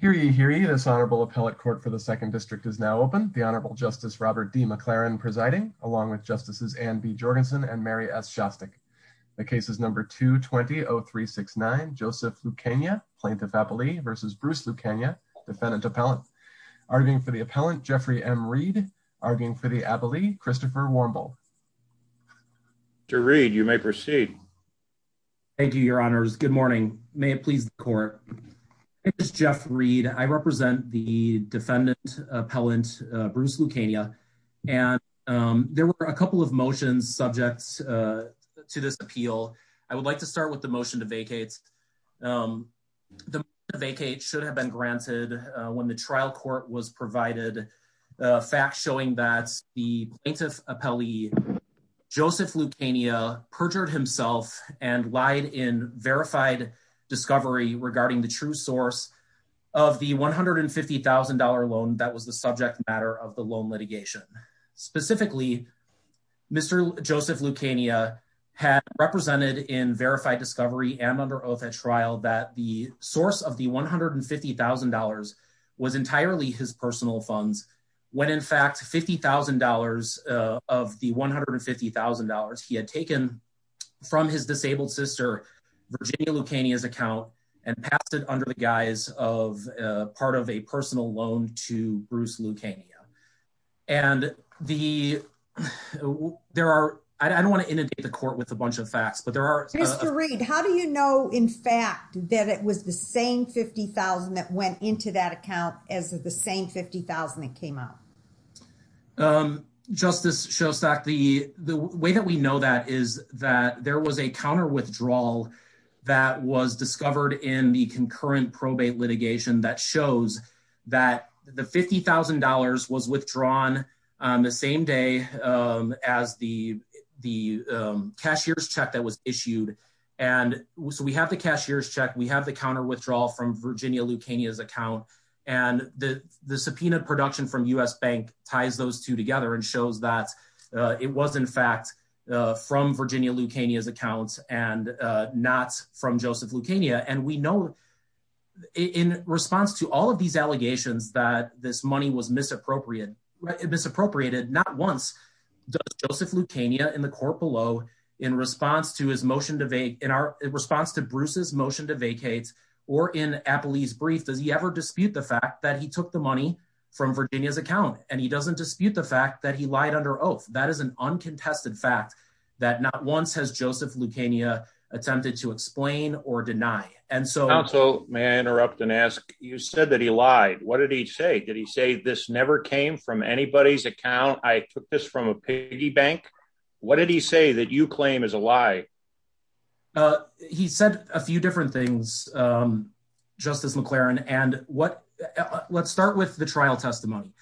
hearing this honorable appellate court for the second district is now open. The Honorable Justice Robert D. McLaren presiding along with Justices and B. Jorgensen and Mary S. Shostak. The case is number 220369 Joseph Lucania plaintiff appellee versus Bruce Lucania defendant appellant arguing for the appellant Jeffrey M. Reed arguing for the appellee Christopher Warmbull to read. You may proceed. Thank you. Your honors. Good morning. May it please the court. It is Jeff Reed. I represent the defendant appellant Bruce Lucania and there were a couple of motions subjects to this appeal. I would like to start with the motion to vacate. Um, the vacate should have been granted when the trial court was provided a fact showing that the plaintiff appellee Joseph Lucania perjured himself and lied in verified discovery regarding the true source of the $150,000 loan that was the subject matter of the loan litigation. Specifically, Mr. Joseph Lucania had represented in verified discovery and under oath at trial that the source of the $150,000 was entirely his personal funds when in fact $50,000 of the $150,000 he had taken from his disabled sister Virginia Lucania's account and passed it under the guise of part of a personal loan to Bruce Lucania and the there are I don't want to that it was the same $50,000 that went into that account as the same $50,000 that came up. Um, Justice Shostak, the the way that we know that is that there was a counter withdrawal that was discovered in the concurrent probate litigation that shows that the $50,000 was withdrawn on the same day as the the cashier's check that was issued. And so we have the cashier's check. We have the counter withdrawal from Virginia Lucania's account and the the subpoena production from U.S. Bank ties those two together and shows that it was in fact from Virginia Lucania's accounts and not from Joseph Lucania. And we know in response to all of these allegations that this money was misappropriated misappropriated not once does Joseph Lucania in the court below in response to his motion to vacate in our response to Bruce's motion to vacate or in Applebee's brief does he ever dispute the fact that he took the money from Virginia's account and he doesn't dispute the fact that he lied under oath. That is an uncontested fact that not once has Joseph Lucania attempted to explain or deny. And so may I interrupt and ask you said that he lied. What did he say? Did he say this never came from anybody's account? I took this from a piggy bank. What did he say that you claim is a lie. He said a few different things. Justice McLaren and what. Let's start with the trial testimony.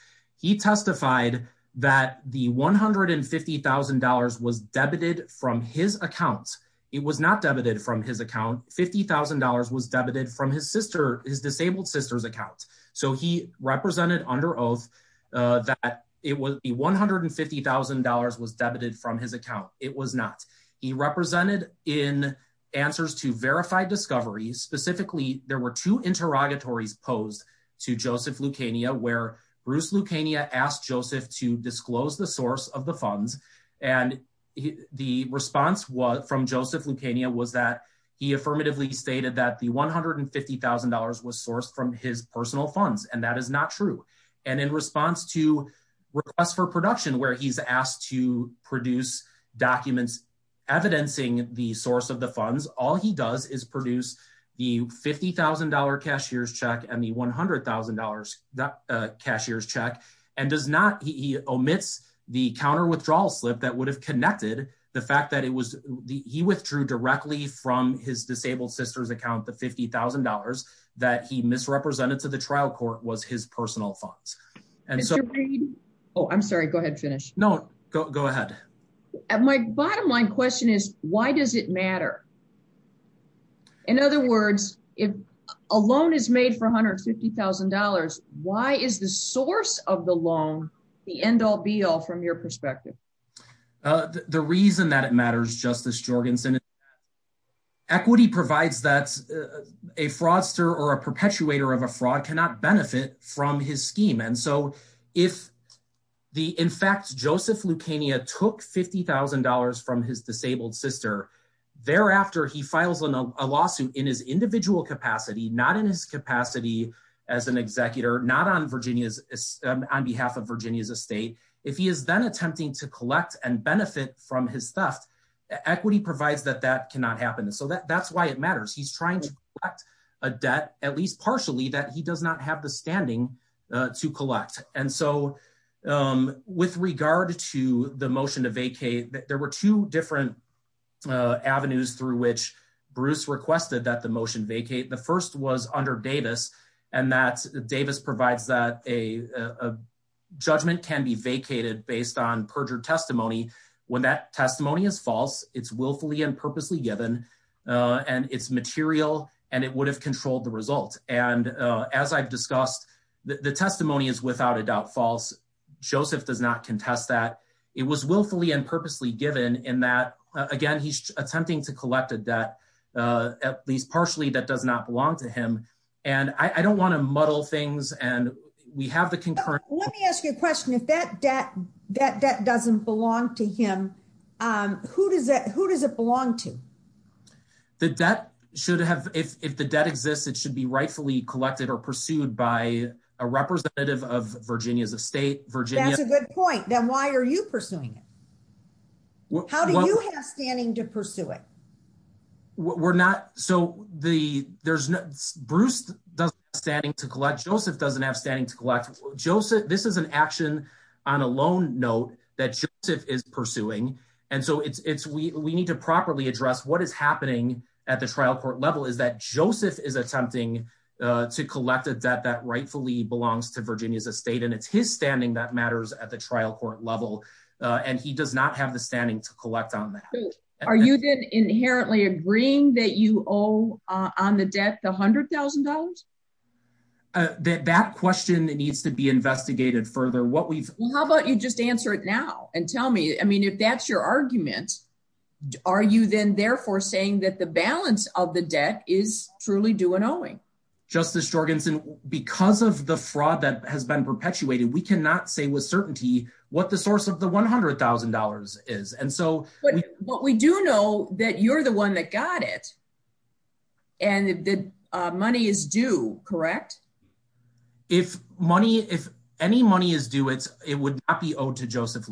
He testified that the one hundred and fifty thousand dollars was debited from his account. It was not debited from his account. Fifty thousand dollars was debited from his sister his disabled sister's account. So he represented under oath that it was one hundred and fifty thousand dollars was debited from his account. It was not. He represented in answers to verify discoveries. Specifically there were two interrogatories posed to Joseph Lucania where Bruce Lucania asked Joseph to disclose the source of the funds. And the response was from Joseph Lucania was that he affirmatively stated that one hundred and fifty thousand dollars was sourced from his personal funds. And that is not true. And in response to us for production where he's asked to produce documents evidencing the source of the funds, all he does is produce the fifty thousand dollar cashier's check and the one hundred thousand dollars cashier's check and does not. He omits the counter withdrawal slip that would have connected the fact that it was he withdrew directly from his disabled sister's fifty thousand dollars that he misrepresented to the trial court was his personal funds. Oh, I'm sorry. Go ahead. Finish. No, go ahead. And my bottom line question is, why does it matter? In other words, if a loan is made for one hundred and fifty thousand dollars, why is the source of the loan the end all be all from your perspective? The reason that it matters, Justice Jorgensen, equity provides that a fraudster or a perpetrator of a fraud cannot benefit from his scheme. And so if the in fact, Joseph Lucania took fifty thousand dollars from his disabled sister, thereafter, he files a lawsuit in his individual capacity, not in his capacity as an executor, not on Virginia's on behalf of Virginia's estate. If he is then attempting to collect and benefit from his theft, equity provides that that cannot happen. So that's why it matters. He's trying to collect a debt, at least partially, that he does not have the standing to collect. And so with regard to the motion to vacate, there were two different avenues through which Bruce requested that the motion vacate. The first was under Davis and that Davis provides that a judgment can be vacated based on perjured testimony. When that testimony is false, it's willfully and purposely given and it's material and it would have controlled the result. And as I've discussed, the testimony is without a doubt false. Joseph does not contest that. It was willfully and purposely given in that, again, he's attempting to collect a debt, at least partially, that does not belong to him. And I don't want to muddle things. And we have the concurrent. Let me ask you a question. If that debt that that doesn't belong to him, who does that who does it belong to? That that should have if the debt exists, it should be rightfully collected or pursued by a representative of Virginia's estate. That's a good point. Then why are you pursuing it? How do you have standing to pursue it? We're not. So the there's no Bruce standing to collect. Joseph doesn't have standing to collect Joseph. This is an action on a loan note that Joseph is pursuing. And so it's we need to properly address what is happening at the trial court level is that Joseph is attempting to collect a debt that rightfully belongs to Virginia's estate. And it's his standing that matters at the trial court level. And he does not have the standing to collect on that. Are you then inherently agreeing that you owe on the debt, the hundred thousand dollars? That that question that needs to be investigated further what we've How about you just answer it now and tell me, I mean, if that's your argument, are you then therefore saying that the balance of the debt is truly do an owing? Justice Jorgensen, because of the fraud that has been perpetuated, we cannot say with certainty what the source of the $100,000 is. And so what we do know that you're the one that got it. And the money is due, correct? If money if any money is due, it's it would be owed to Joseph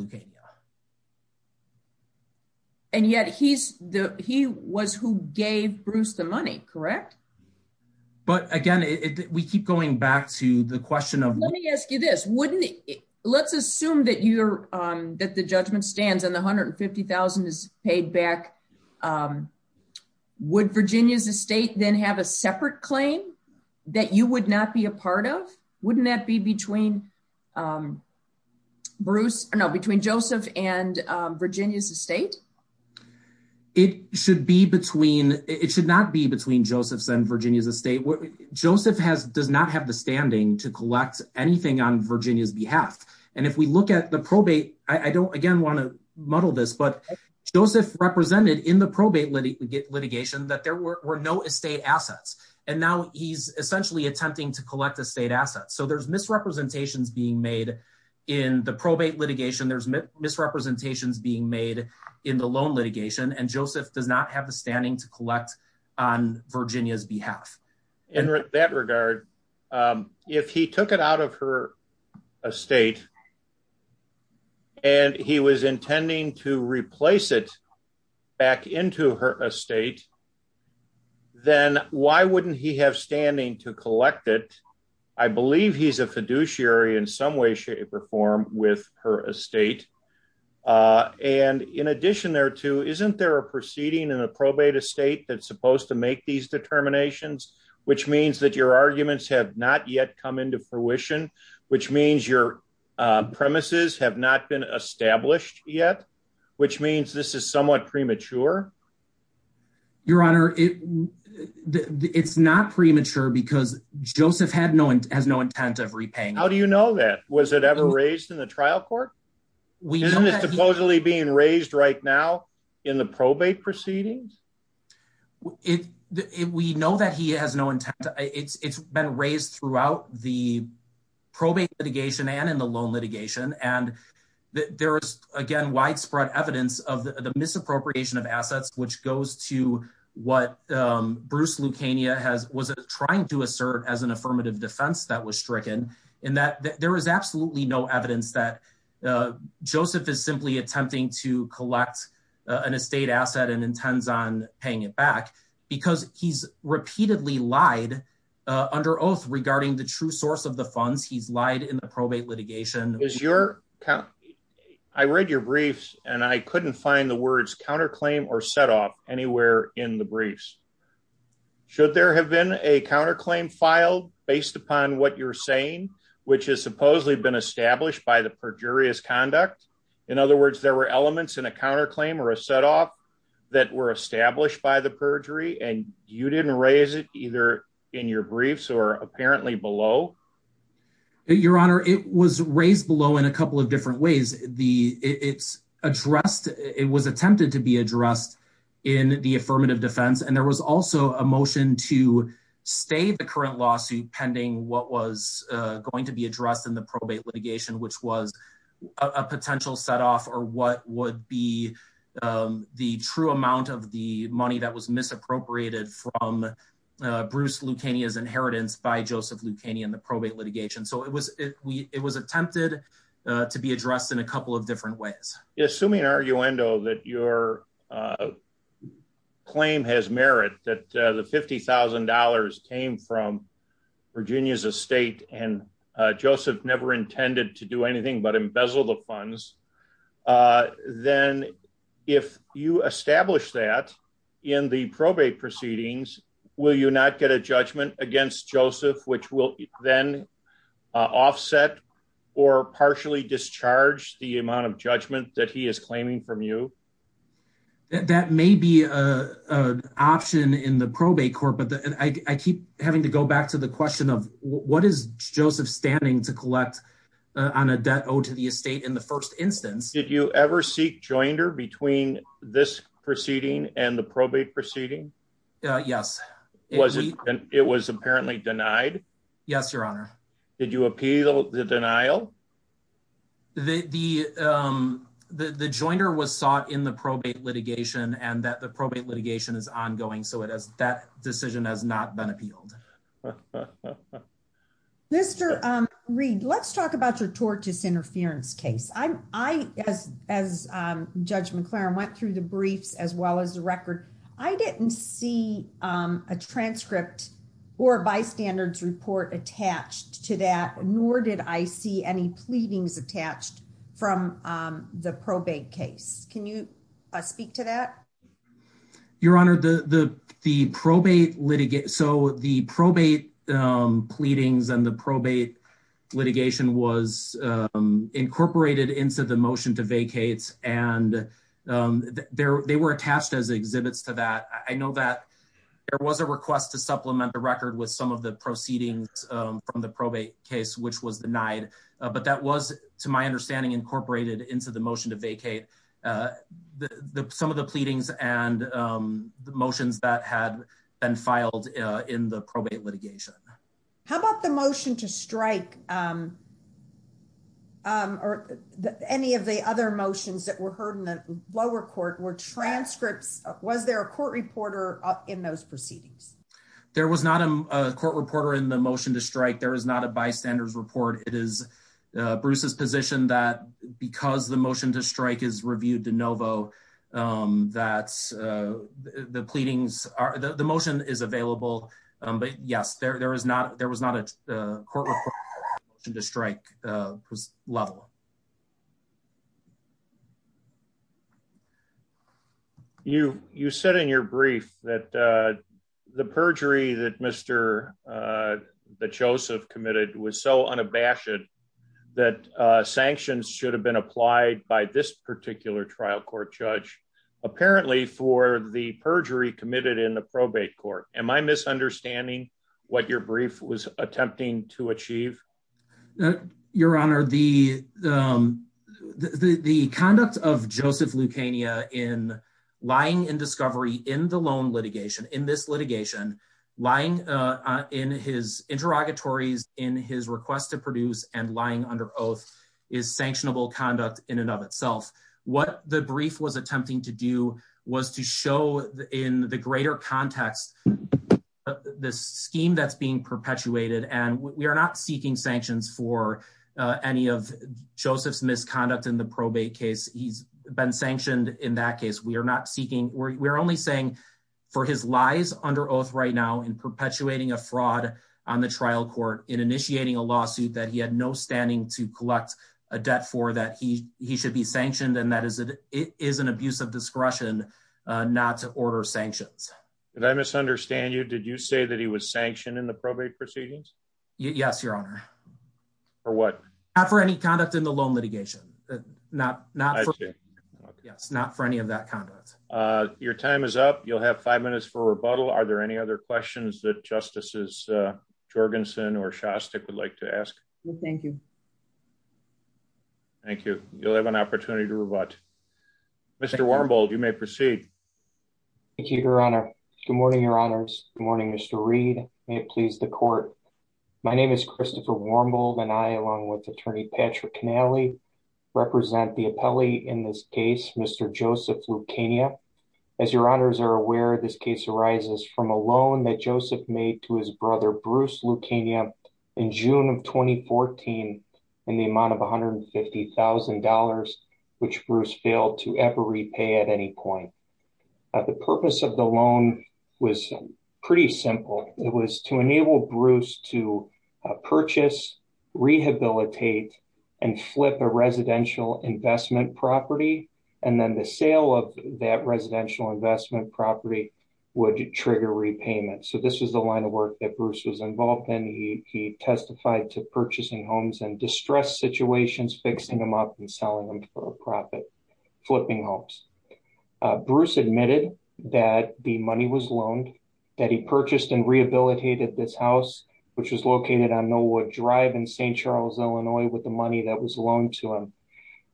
money, correct? But again, we keep going back to the question of let me ask you this, wouldn't let's assume that you're that the judgment stands and the $150,000 is paid back. Would Virginia's estate then have a separate claim that you would not be a part of? Wouldn't that be between Bruce? No, between Joseph and Virginia's estate? It should be between it should not be between Joseph's and Virginia's estate. Joseph has does not have the standing to collect anything on Virginia's behalf. And if we look at the probate, I don't again want to muddle this, but Joseph represented in the probate litigation that there were no estate assets. And now he's essentially attempting to collect the state assets. So there's misrepresentations being made in the probate litigation. There's misrepresentations being made in the loan on Virginia's behalf. In that regard, if he took it out of her estate, and he was intending to replace it back into her estate, then why wouldn't he have standing to collect it? I believe he's a fiduciary in some way, shape or form with her estate. And in addition, there too, isn't there a proceeding in a probate estate that's supposed to make these determinations, which means that your arguments have not yet come into fruition, which means your premises have not been established yet, which means this is somewhat premature. Your Honor, it's not premature because Joseph has no intent of repaying. How do you know that? Was it ever raised in the trial court? Isn't it supposedly being raised right now in the probate proceedings? We know that he has no intent. It's been raised throughout the probate litigation and in the loan litigation. And there is, again, widespread evidence of the misappropriation of assets, which goes to what Bruce Lucania was trying to assert as an affirmative defense that was stricken in that there is absolutely no evidence that Joseph is simply attempting to collect an estate asset and intends on paying it back because he's repeatedly lied under oath regarding the true source of the funds. He's lied in the probate litigation. I read your briefs and I couldn't find the words counterclaim or set off anywhere in the briefs. Should there have been a counterclaim filed based upon what you're saying, which has supposedly been established by the perjurious conduct? In other words, there were elements in a counterclaim or a set off that were established by the perjury and you didn't raise it either in your briefs or apparently below. Your Honor, it was raised below in a couple of different ways. It was attempted to be addressed in the affirmative defense. And there was also a motion to stay the current lawsuit pending what was going to be addressed in the probate litigation, which was a potential set off or what would be the true amount of the money that was misappropriated from Bruce Lucania's inheritance by Joseph Lucania in the probate litigation. So it was attempted to be addressed in a couple different ways. Assuming an arguendo that your claim has merit that the $50,000 came from Virginia's estate and Joseph never intended to do anything but embezzle the funds, then if you establish that in the probate proceedings, will you not get a judgment against Joseph, which will then offset or partially discharge the amount of judgment that he is claiming from you? That may be an option in the probate court, but I keep having to go back to the question of what is Joseph standing to collect on a debt owed to the estate in the first instance? Did you ever seek joinder between this proceeding and the denied? Yes, Your Honor. Did you appeal the denial? The joinder was sought in the probate litigation and that the probate litigation is ongoing. So it has that decision has not been appealed. Mr. Reid, let's talk about your tortious interference case. I as Judge McLaren went through the briefs as well as the record. I didn't see a transcript or bystanders report attached to that, nor did I see any pleadings attached from the probate case. Can you speak to that? Your Honor, the probate litigation, so the probate pleadings and the probate litigation was they were attached as exhibits to that. I know that there was a request to supplement the record with some of the proceedings from the probate case, which was denied. But that was, to my understanding, incorporated into the motion to vacate some of the pleadings and the motions that had been filed in the probate litigation. How about the motion to strike or any of the other motions that were heard in the lower court? Were transcripts, was there a court reporter in those proceedings? There was not a court reporter in the motion to strike. There is not a bystanders report. It is Bruce's position that because the motion to strike is reviewed de novo, that the pleadings are, the motion is available. But yes, there is not, there was not a court to strike law. You said in your brief that the perjury that Mr. Joseph committed was so unabashed that sanctions should have been applied by this particular trial court judge, apparently for the perjury committed in the probate court. Am I misunderstanding what your brief was attempting to achieve? Your honor, the conduct of Joseph Lucania in lying in discovery in the loan litigation, in this litigation, lying in his interrogatories, in his request to produce and lying under oath is sanctionable conduct in and of itself. What the brief was attempting to do was to show in the greater context, the scheme that's being perpetuated and we are not seeking sanctions for any of Joseph's misconduct in the probate case. He's been sanctioned in that case. We are not seeking, we're only saying for his lies under oath right now in perpetuating a fraud on the trial court, in initiating a lawsuit that he had no standing to collect a debt for that he should be sanctioned and that is an abuse of discretion not to order sanctions. Did I misunderstand you? Did you say that he was sanctioned in the probate proceedings? Yes, your honor. For what? Not for any conduct in the loan litigation. Not for any of that conduct. Your time is up. You'll have five minutes for rebuttal. Are there any other questions that Justices Jorgensen or Shostak would like to Mr. Wormbold, you may proceed. Thank you, your honor. Good morning, your honors. Good morning, Mr. Reed. May it please the court. My name is Christopher Wormbold and I along with attorney Patrick Canale represent the appellee in this case, Mr. Joseph Lucania. As your honors are aware, this case arises from a loan that Joseph made to his brother, Bruce Lucania in June of 2014 in the amount of $150,000 which Bruce failed to ever repay at any point. The purpose of the loan was pretty simple. It was to enable Bruce to purchase, rehabilitate and flip a residential investment property and then the sale of that residential investment property would trigger repayment. So this was the line of work that Bruce was involved in. He testified to purchasing homes and distress situations, fixing them up and selling them for a profit, flipping homes. Bruce admitted that the money was loaned, that he purchased and rehabilitated this house which was located on No Wood Drive in St. Charles, Illinois with the money that was loaned to him.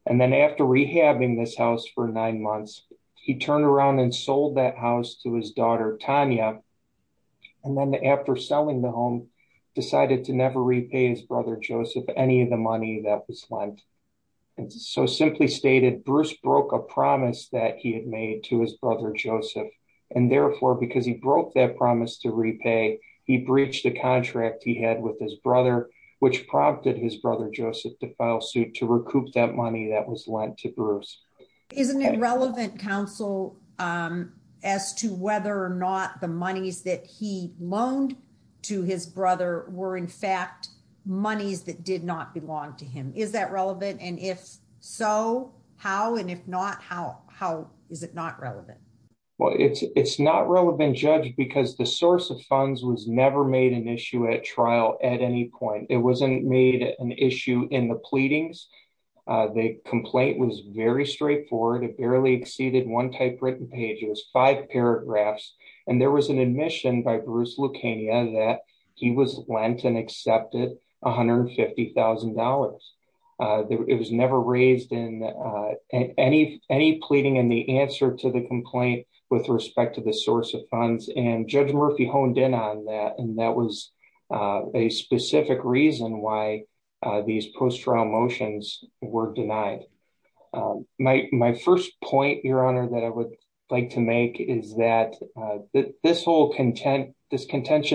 And then after rehabbing this house for nine months, he turned around and sold that house to his daughter, Tanya. And then after selling the home, decided to never repay his brother, Joseph, any of the money that was lent. And so simply stated, Bruce broke a promise that he had made to his brother, Joseph. And therefore, because he broke that promise to repay, he breached a contract he had with his brother, which prompted his brother, Joseph, to file suit to recoup that money that was lent to Bruce. Isn't it relevant, counsel, as to whether or not the monies that he lent to his brother were, in fact, monies that did not belong to him? Is that relevant? And if so, how? And if not, how is it not relevant? Well, it's not relevant, Judge, because the source of funds was never made an issue at trial at any point. It wasn't made an issue in the pleadings. The complaint was very straightforward. It barely exceeded one typewritten page. It was five paragraphs. And there was an admission by Bruce Lucania that he was lent and accepted $150,000. It was never raised in any pleading in the answer to the complaint with respect to the source of funds. And Judge Murphy honed in on that. And that was a specific reason why these post-trial motions were denied. My first point, Your Honor, that I would like to make is that this whole contention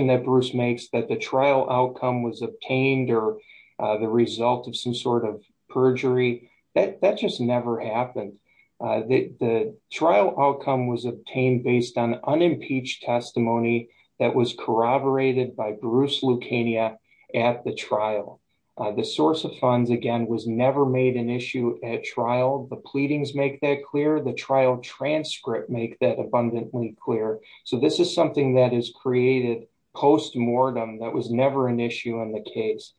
that Bruce makes that the trial outcome was obtained or the result of some sort of perjury, that just never happened. The trial outcome was obtained based on unimpeached testimony that was corroborated by Bruce Lucania at the trial. The source of funds, again, was never made an issue at trial. The pleadings make that clear. The trial transcript make that abundantly clear. So this is something that is created post-mortem that was never an issue in the case.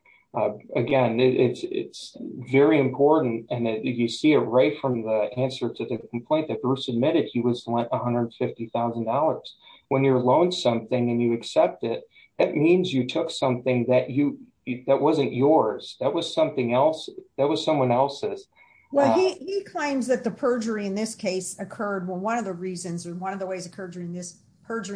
Again, it's very important. And you see it right from the answer to the complaint that Bruce admitted he was lent $150,000. When you're loaned something and you accept it, that means you took something that wasn't yours. That was someone else's. Well, he claims that the perjury in this case occurred. Well, one of the reasons or one of the ways perjury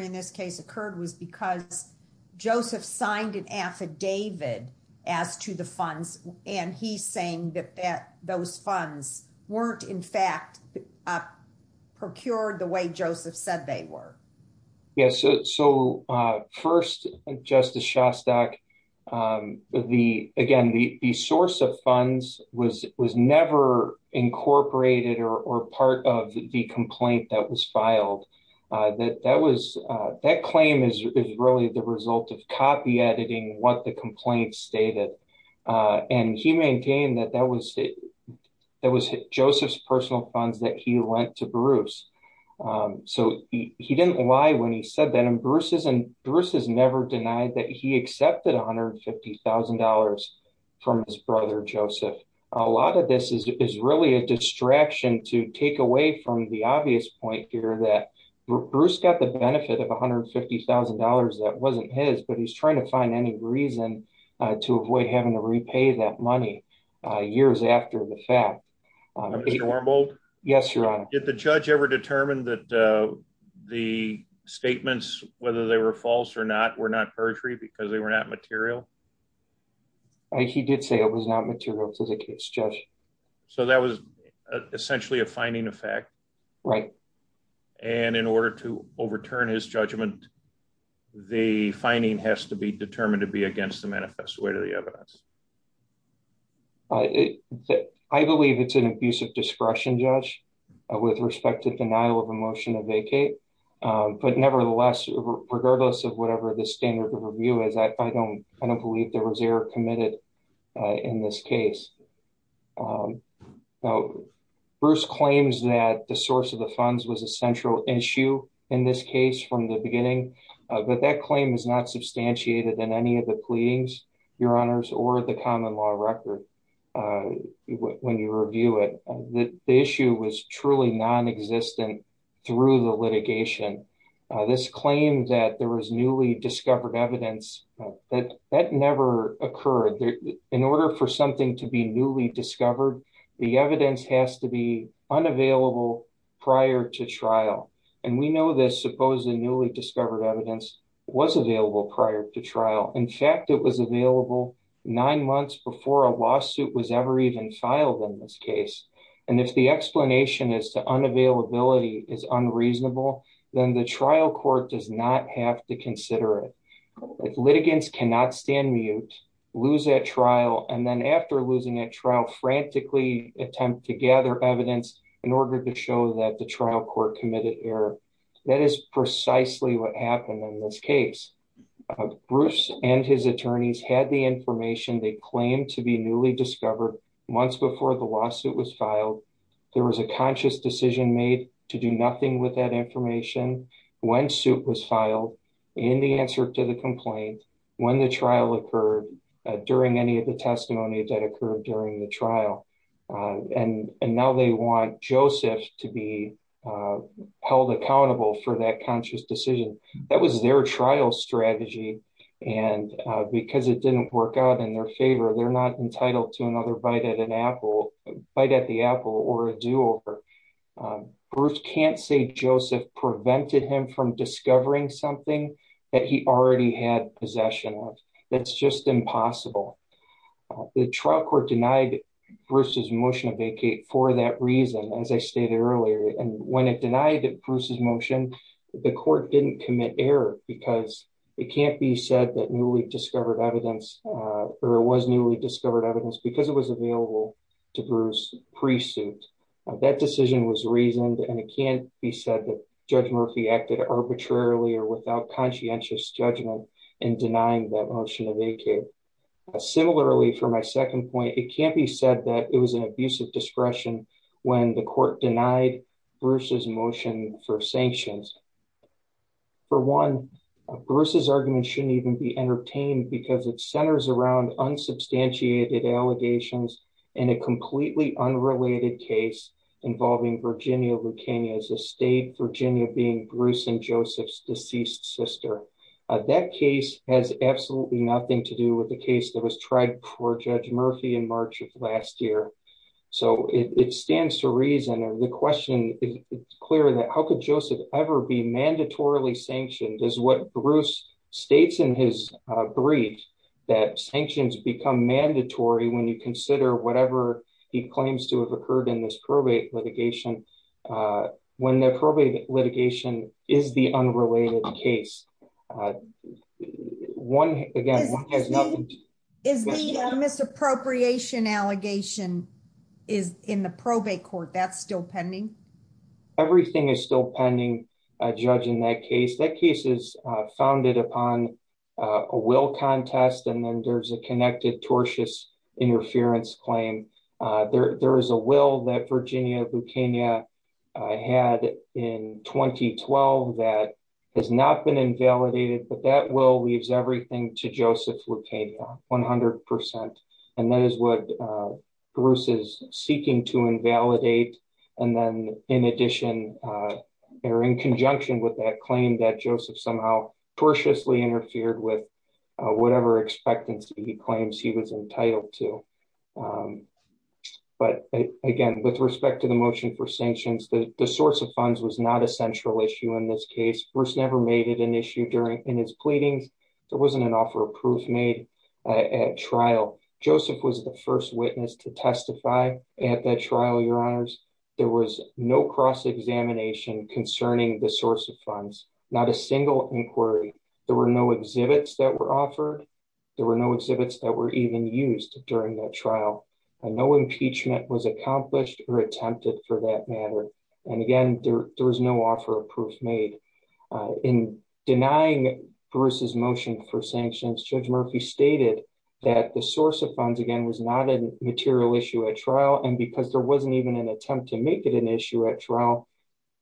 in this case occurred was because Joseph signed an affidavit as to the funds. And he's saying that those funds weren't, in fact, procured the way Joseph said they were. Yes. So first, Justice Shostak, again, the source of funds was never incorporated or part of the complaint that was filed. That claim is really the result of copyediting what the complaint stated. And he maintained that that was Joseph's personal funds that he lent to Bruce. So he didn't lie when he said that. And Bruce has never denied that he accepted $150,000 from his brother, Joseph. A lot of this is really a distraction to take away from the obvious point here that Bruce got the benefit of $150,000 that wasn't his, but he's trying to find any reason to avoid having to repay that money years after the fact. Mr. Wormald? Yes, Your Honor. Did the judge ever determine that the statements, whether they were false or not, were not perjury because they were not material? He did say it was not material to the case, Judge. So that was essentially a finding of fact? Right. And in order to overturn his judgment, the finding has to be determined to be against the manifest way to the evidence. I believe it's an abuse of discretion, Judge, with respect to denial of a motion to vacate. But nevertheless, regardless of whatever the standard of review is, I don't believe there was error committed in this case. Bruce claims that the source of the funds was a central issue in this case from the beginning, but that claim is not substantiated in any of the pleadings, Your Honors, or the common law record when you review it. The issue was truly non-existent through the litigation. This claim that there was newly discovered evidence, that never occurred. In order for something to be newly discovered, the evidence has to be supposedly newly discovered evidence, was available prior to trial. In fact, it was available nine months before a lawsuit was ever even filed in this case. And if the explanation is to unavailability is unreasonable, then the trial court does not have to consider it. Litigants cannot stand mute, lose that trial, and then after losing a trial, frantically attempt to gather evidence in order to show that the trial court committed error. That is precisely what happened in this case. Bruce and his attorneys had the information they claimed to be newly discovered months before the lawsuit was filed. There was a conscious decision made to do nothing with that information when suit was filed in the answer to the complaint when the trial occurred during any of the testimonies that occurred during the trial. And now they want Joseph to be held accountable for that conscious decision. That was their trial strategy. And because it didn't work out in their favor, they're not entitled to another bite at the apple or a do over. Bruce can't say Joseph prevented him from discovering something that he already had possession of. That's just impossible. The motion of vacate for that reason, as I stated earlier, and when it denied it, Bruce's motion, the court didn't commit error because it can't be said that newly discovered evidence or it was newly discovered evidence because it was available to Bruce pre-suit. That decision was reasoned and it can't be said that Judge Murphy acted arbitrarily or without conscientious judgment in denying that motion of vacate. Similarly, for my second point, it can't be said that it was an abuse of discretion when the court denied Bruce's motion for sanctions. For one, Bruce's argument shouldn't even be entertained because it centers around unsubstantiated allegations and a completely unrelated case involving Virginia Lucchini as a state, Virginia being Bruce and Joseph's deceased sister. That case has absolutely nothing to do with the case that was tried before Judge Murphy in March of last year. It stands to reason and the question is clear that how could Joseph ever be mandatorily sanctioned is what Bruce states in his brief that sanctions become mandatory when you consider whatever he claims to have occurred in this probate litigation when the probate litigation is the unrelated case. Is the misappropriation allegation in the probate court still pending? Everything is still pending, Judge, in that case. That case is founded upon a will contest and then there's a connected tortious interference claim. There is a will that Virginia Lucchini had in 2012 that has not been invalidated but that will leaves everything to Joseph Lucchini 100% and that is what Bruce is seeking to invalidate and then in addition or in conjunction with that claim that Joseph somehow tortiously interfered with whatever expectancy he claims he was entitled to. But again, with respect to the motion for sanctions, the source of funds was not a central issue in this case. Bruce never made it an issue during in his pleadings. There wasn't an offer of proof made at trial. Joseph was the first witness to testify at that trial, Your Honors. There was no cross-examination concerning the source of funds, not a single inquiry. There were no exhibits that were offered. There were no exhibits that were even used during that trial and no impeachment was accomplished or attempted for that matter. And again, there was no offer of proof made. In denying Bruce's motion for sanctions, Judge Murphy stated that the source of funds again was not a material issue at trial and because there wasn't even an attempt to make it an issue at trial,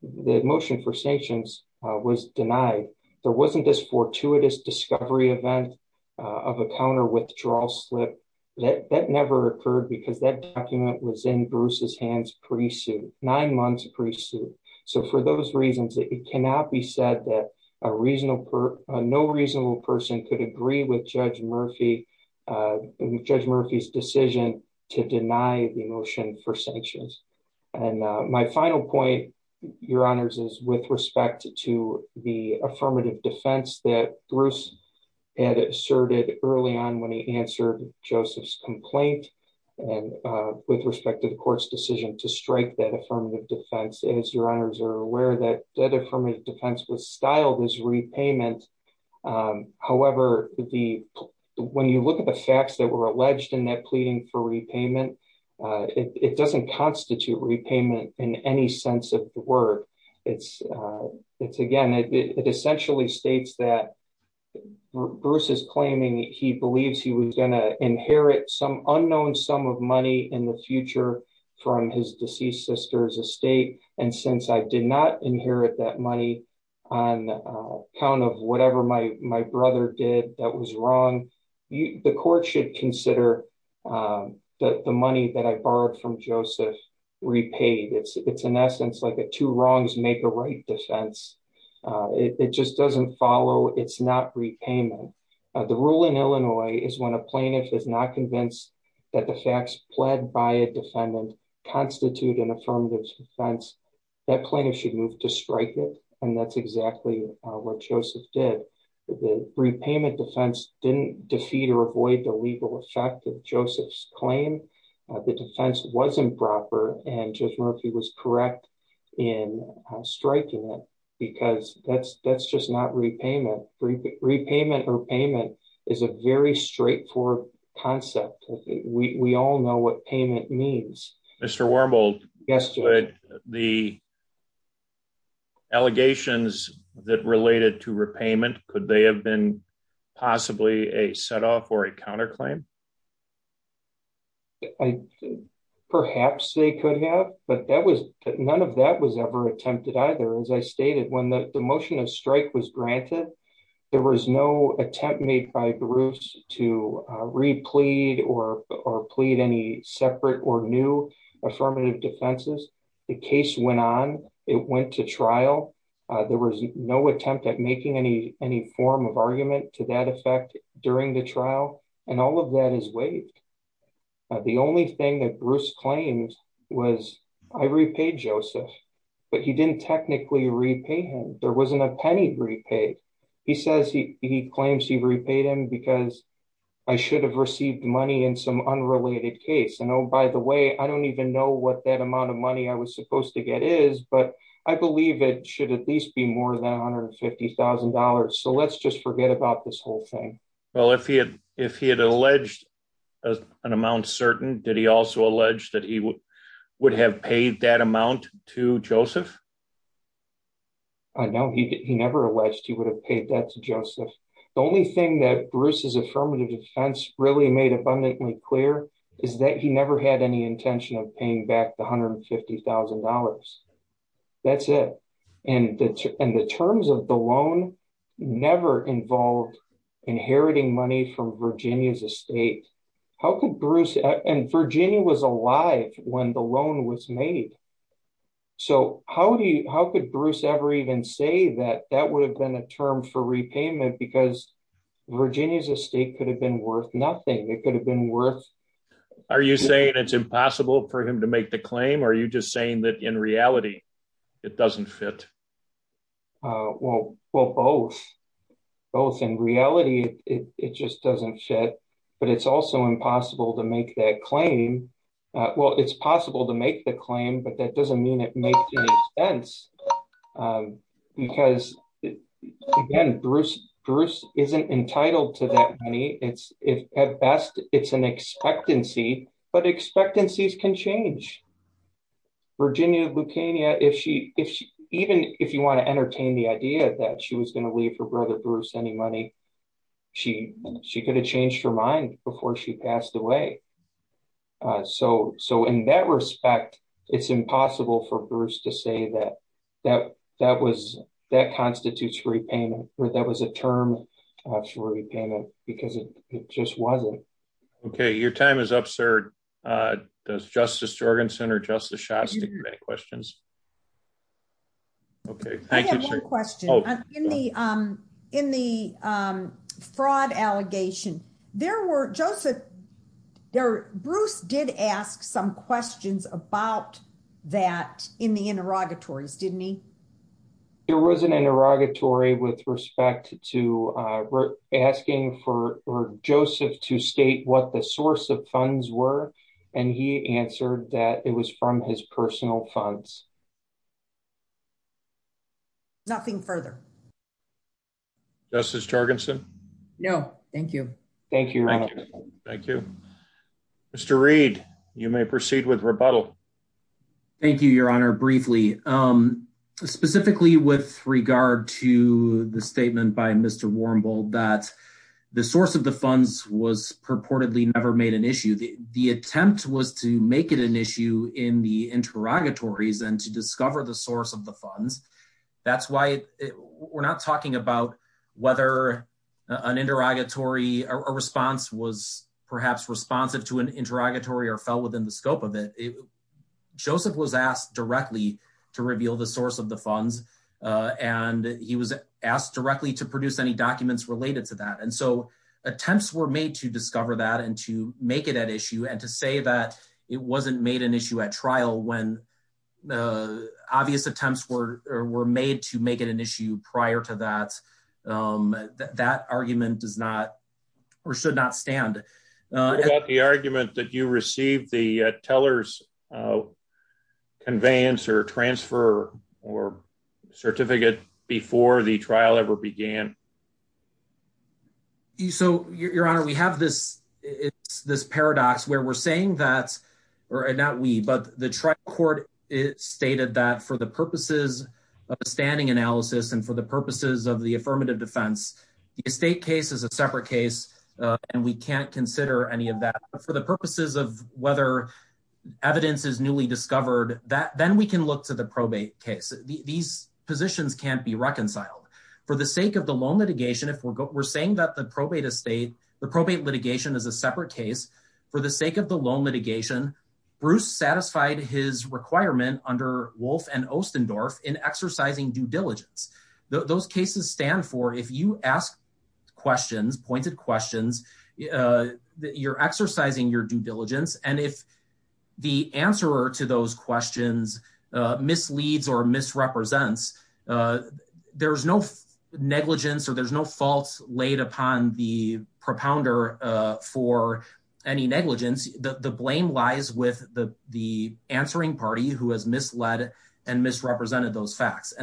the motion for sanctions was denied. There wasn't this fortuitous discovery event of a counter-withdrawal slip. That never occurred because that document was in Bruce's hands pre-suit, nine months pre-suit. So for those reasons, it cannot be said that a reasonable, no reasonable person could agree with Judge Murphy, Judge Murphy's decision to deny the motion for my final point, Your Honors, is with respect to the affirmative defense that Bruce had asserted early on when he answered Joseph's complaint and with respect to the court's decision to strike that affirmative defense. As Your Honors are aware that that affirmative defense was styled as repayment. However, when you look at the facts that were alleged in that pleading for repayment, it doesn't constitute repayment in any sense of the word. It's again, it essentially states that Bruce is claiming he believes he was going to inherit some unknown sum of money in the future from his deceased sister's estate and since I did not inherit that money on account of from Joseph repaid. It's in essence like a two wrongs make a right defense. It just doesn't follow. It's not repayment. The rule in Illinois is when a plaintiff is not convinced that the facts pled by a defendant constitute an affirmative defense, that plaintiff should move to strike it and that's exactly what Joseph did. The repayment defense didn't defeat or avoid the legal effect of Joseph's claim. The defense wasn't proper and Judge Murphy was correct in striking it because that's just not repayment. Repayment or payment is a very straightforward concept. We all know what payment means. Mr. Wormald, could the allegations that related to repayment, could they have been possibly a set off or a counterclaim? Perhaps they could have, but that was none of that was ever attempted either. As I stated, when the motion of strike was granted, there was no attempt made by Bruce to replead or plead any separate or new affirmative defenses. The case went on. It went to trial. There was no attempt at making any form of argument to that effect during the trial and all of that is waived. The only thing that Bruce claimed was I repaid Joseph, but he didn't technically repay him. There wasn't a penny repaid. He says he claims he repaid him because I should have received money in some unrelated case and oh by the way, I don't even know what that amount of money I was supposed to get is, but I believe it should at least be more than $150,000. Let's just forget about this whole thing. If he had alleged an amount certain, did he also allege that he would have paid that amount to Joseph? No, he never alleged he would have paid that to Joseph. The only thing that Bruce's affirmative defense really made abundantly clear is that he never had any intention of paying back the $150,000. That's it. The terms of the loan never involved inheriting money from Virginia's estate. Virginia was alive when the loan was made, so how could Bruce ever even say that that would have been a term for repayment because Virginia's estate could have been worth nothing. It could have been worth... Are you saying it's impossible for him to make the claim or are you just saying that in reality it doesn't fit? Well, both. Both. In reality, it just doesn't fit, but it's also impossible to make that claim. Well, it's possible to make the claim, but that doesn't mean it makes any sense because, again, Bruce isn't entitled to that money. At best, it's an expectancy, but expectancies can change. Virginia Lucania, even if you want to entertain the idea that she was going to leave her brother Bruce any money, she could have changed her mind before she passed away. So, in that respect, it's impossible for Bruce to say that constitutes repayment or that was a term for repayment because it just wasn't. Okay. Your time is up, sir. Does Justice Jorgensen or Justice Shastak have any questions? Okay. I have one question. In the fraud allegation, there were Joseph... Bruce did ask some questions about that in the interrogatories, didn't he? There was an interrogatory with respect to asking for Joseph to state what the source of funds were and he answered that it was from his personal funds. Nothing further. Justice Jorgensen? No. Thank you. Thank you, Your Honor. Thank you. Mr. Reed, you may proceed with rebuttal. Thank you, Your Honor. Briefly, specifically with regard to the statement by Mr. Warmbould that the source of the funds was purportedly never made an issue. The source of the funds, that's why we're not talking about whether an interrogatory or a response was perhaps responsive to an interrogatory or fell within the scope of it. Joseph was asked directly to reveal the source of the funds and he was asked directly to produce any documents related to that. And so, attempts were made to discover that and to make it at issue and to say that it wasn't made issue at trial when obvious attempts were made to make it an issue prior to that. That argument should not stand. What about the argument that you received the teller's conveyance or transfer or certificate before the trial ever began? Your Honor, we have this paradox where we're saying that, or not we, but the trial court stated that for the purposes of a standing analysis and for the purposes of the affirmative defense, the estate case is a separate case and we can't consider any of that. But for the purposes of whether evidence is newly discovered, then we can look to the probate case. These positions can't be reconciled. For the sake of the loan litigation, if we're saying that the probate estate, the probate litigation is a separate case, for the sake of the loan litigation, Bruce satisfied his requirement under Wolf and Ostendorf in exercising due diligence. Those cases stand for if you ask questions, pointed questions, you're exercising your due diligence and if the answerer to those questions misleads or the blame lies with the answering party who has misled and misrepresented those facts.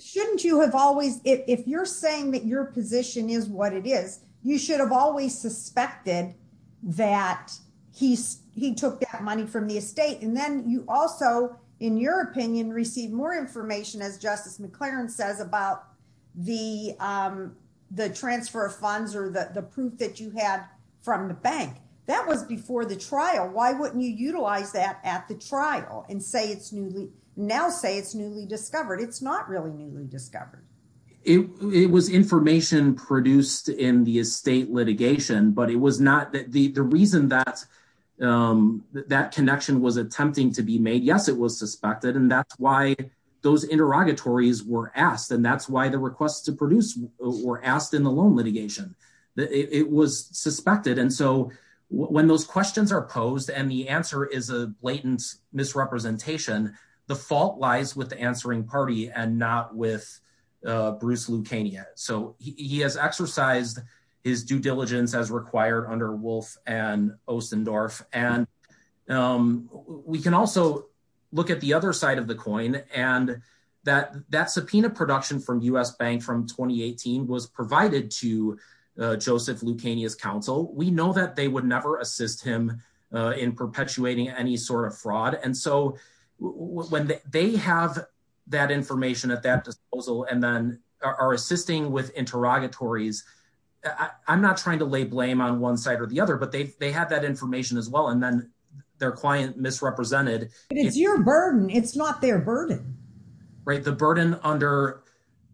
Shouldn't you have always, if you're saying that your position is what it is, you should have always suspected that he took that money from the estate and then you also, in your opinion, receive more information as Justice McLaren says about the transfer of funds or the proof that you had from the bank. That was before the trial. Why wouldn't you utilize that at the trial and now say it's newly discovered? It's not really newly discovered. It was information produced in the estate litigation, but the reason that connection was attempting to be made, yes, it was suspected and that's why those interrogatories were asked and that's why the it was suspected and so when those questions are posed and the answer is a blatant misrepresentation, the fault lies with the answering party and not with Bruce Lucania. So he has exercised his due diligence as required under Wolf and Ostendorf and we can also look at the other side of the coin and that subpoena production from U.S. Bank from 2018 was provided to Joseph Lucania's counsel. We know that they would never assist him in perpetuating any sort of fraud and so when they have that information at that disposal and then are assisting with interrogatories, I'm not trying to lay blame on one side or the other, but they had that information as well and then their client misrepresented. It's your burden, it's not their right. The burden under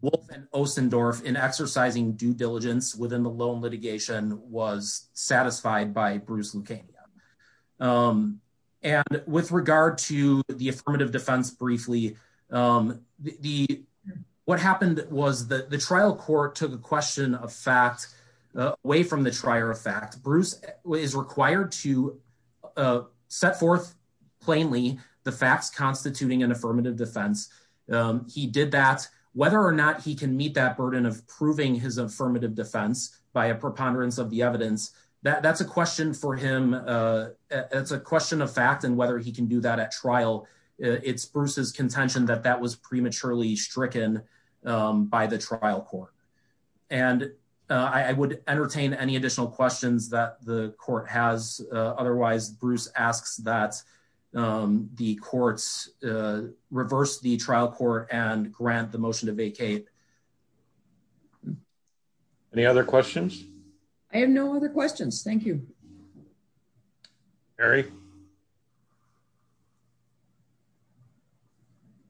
Wolf and Ostendorf in exercising due diligence within the loan litigation was satisfied by Bruce Lucania and with regard to the affirmative defense briefly, what happened was that the trial court took a question of fact away from the trier of fact. Bruce is required to set forth plainly the facts constituting an affirmative defense. He did that. Whether or not he can meet that burden of proving his affirmative defense by a preponderance of the evidence, that's a question for him. It's a question of fact and whether he can do that at trial. It's Bruce's contention that that was prematurely stricken by the trial court. I would entertain any additional questions that the court has. Otherwise, Bruce asks that the courts reverse the trial court and grant the motion to vacate. Any other questions? I have no other questions. Thank you. Mary?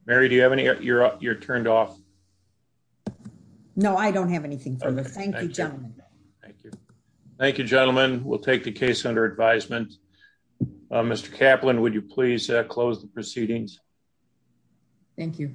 Mary, do you have any? You're turned off. No, I don't have anything further. Thank you, gentlemen. Thank you. Thank you, gentlemen. We'll take the case under advisement. Mr. Kaplan, would you please close the proceedings? Thank you.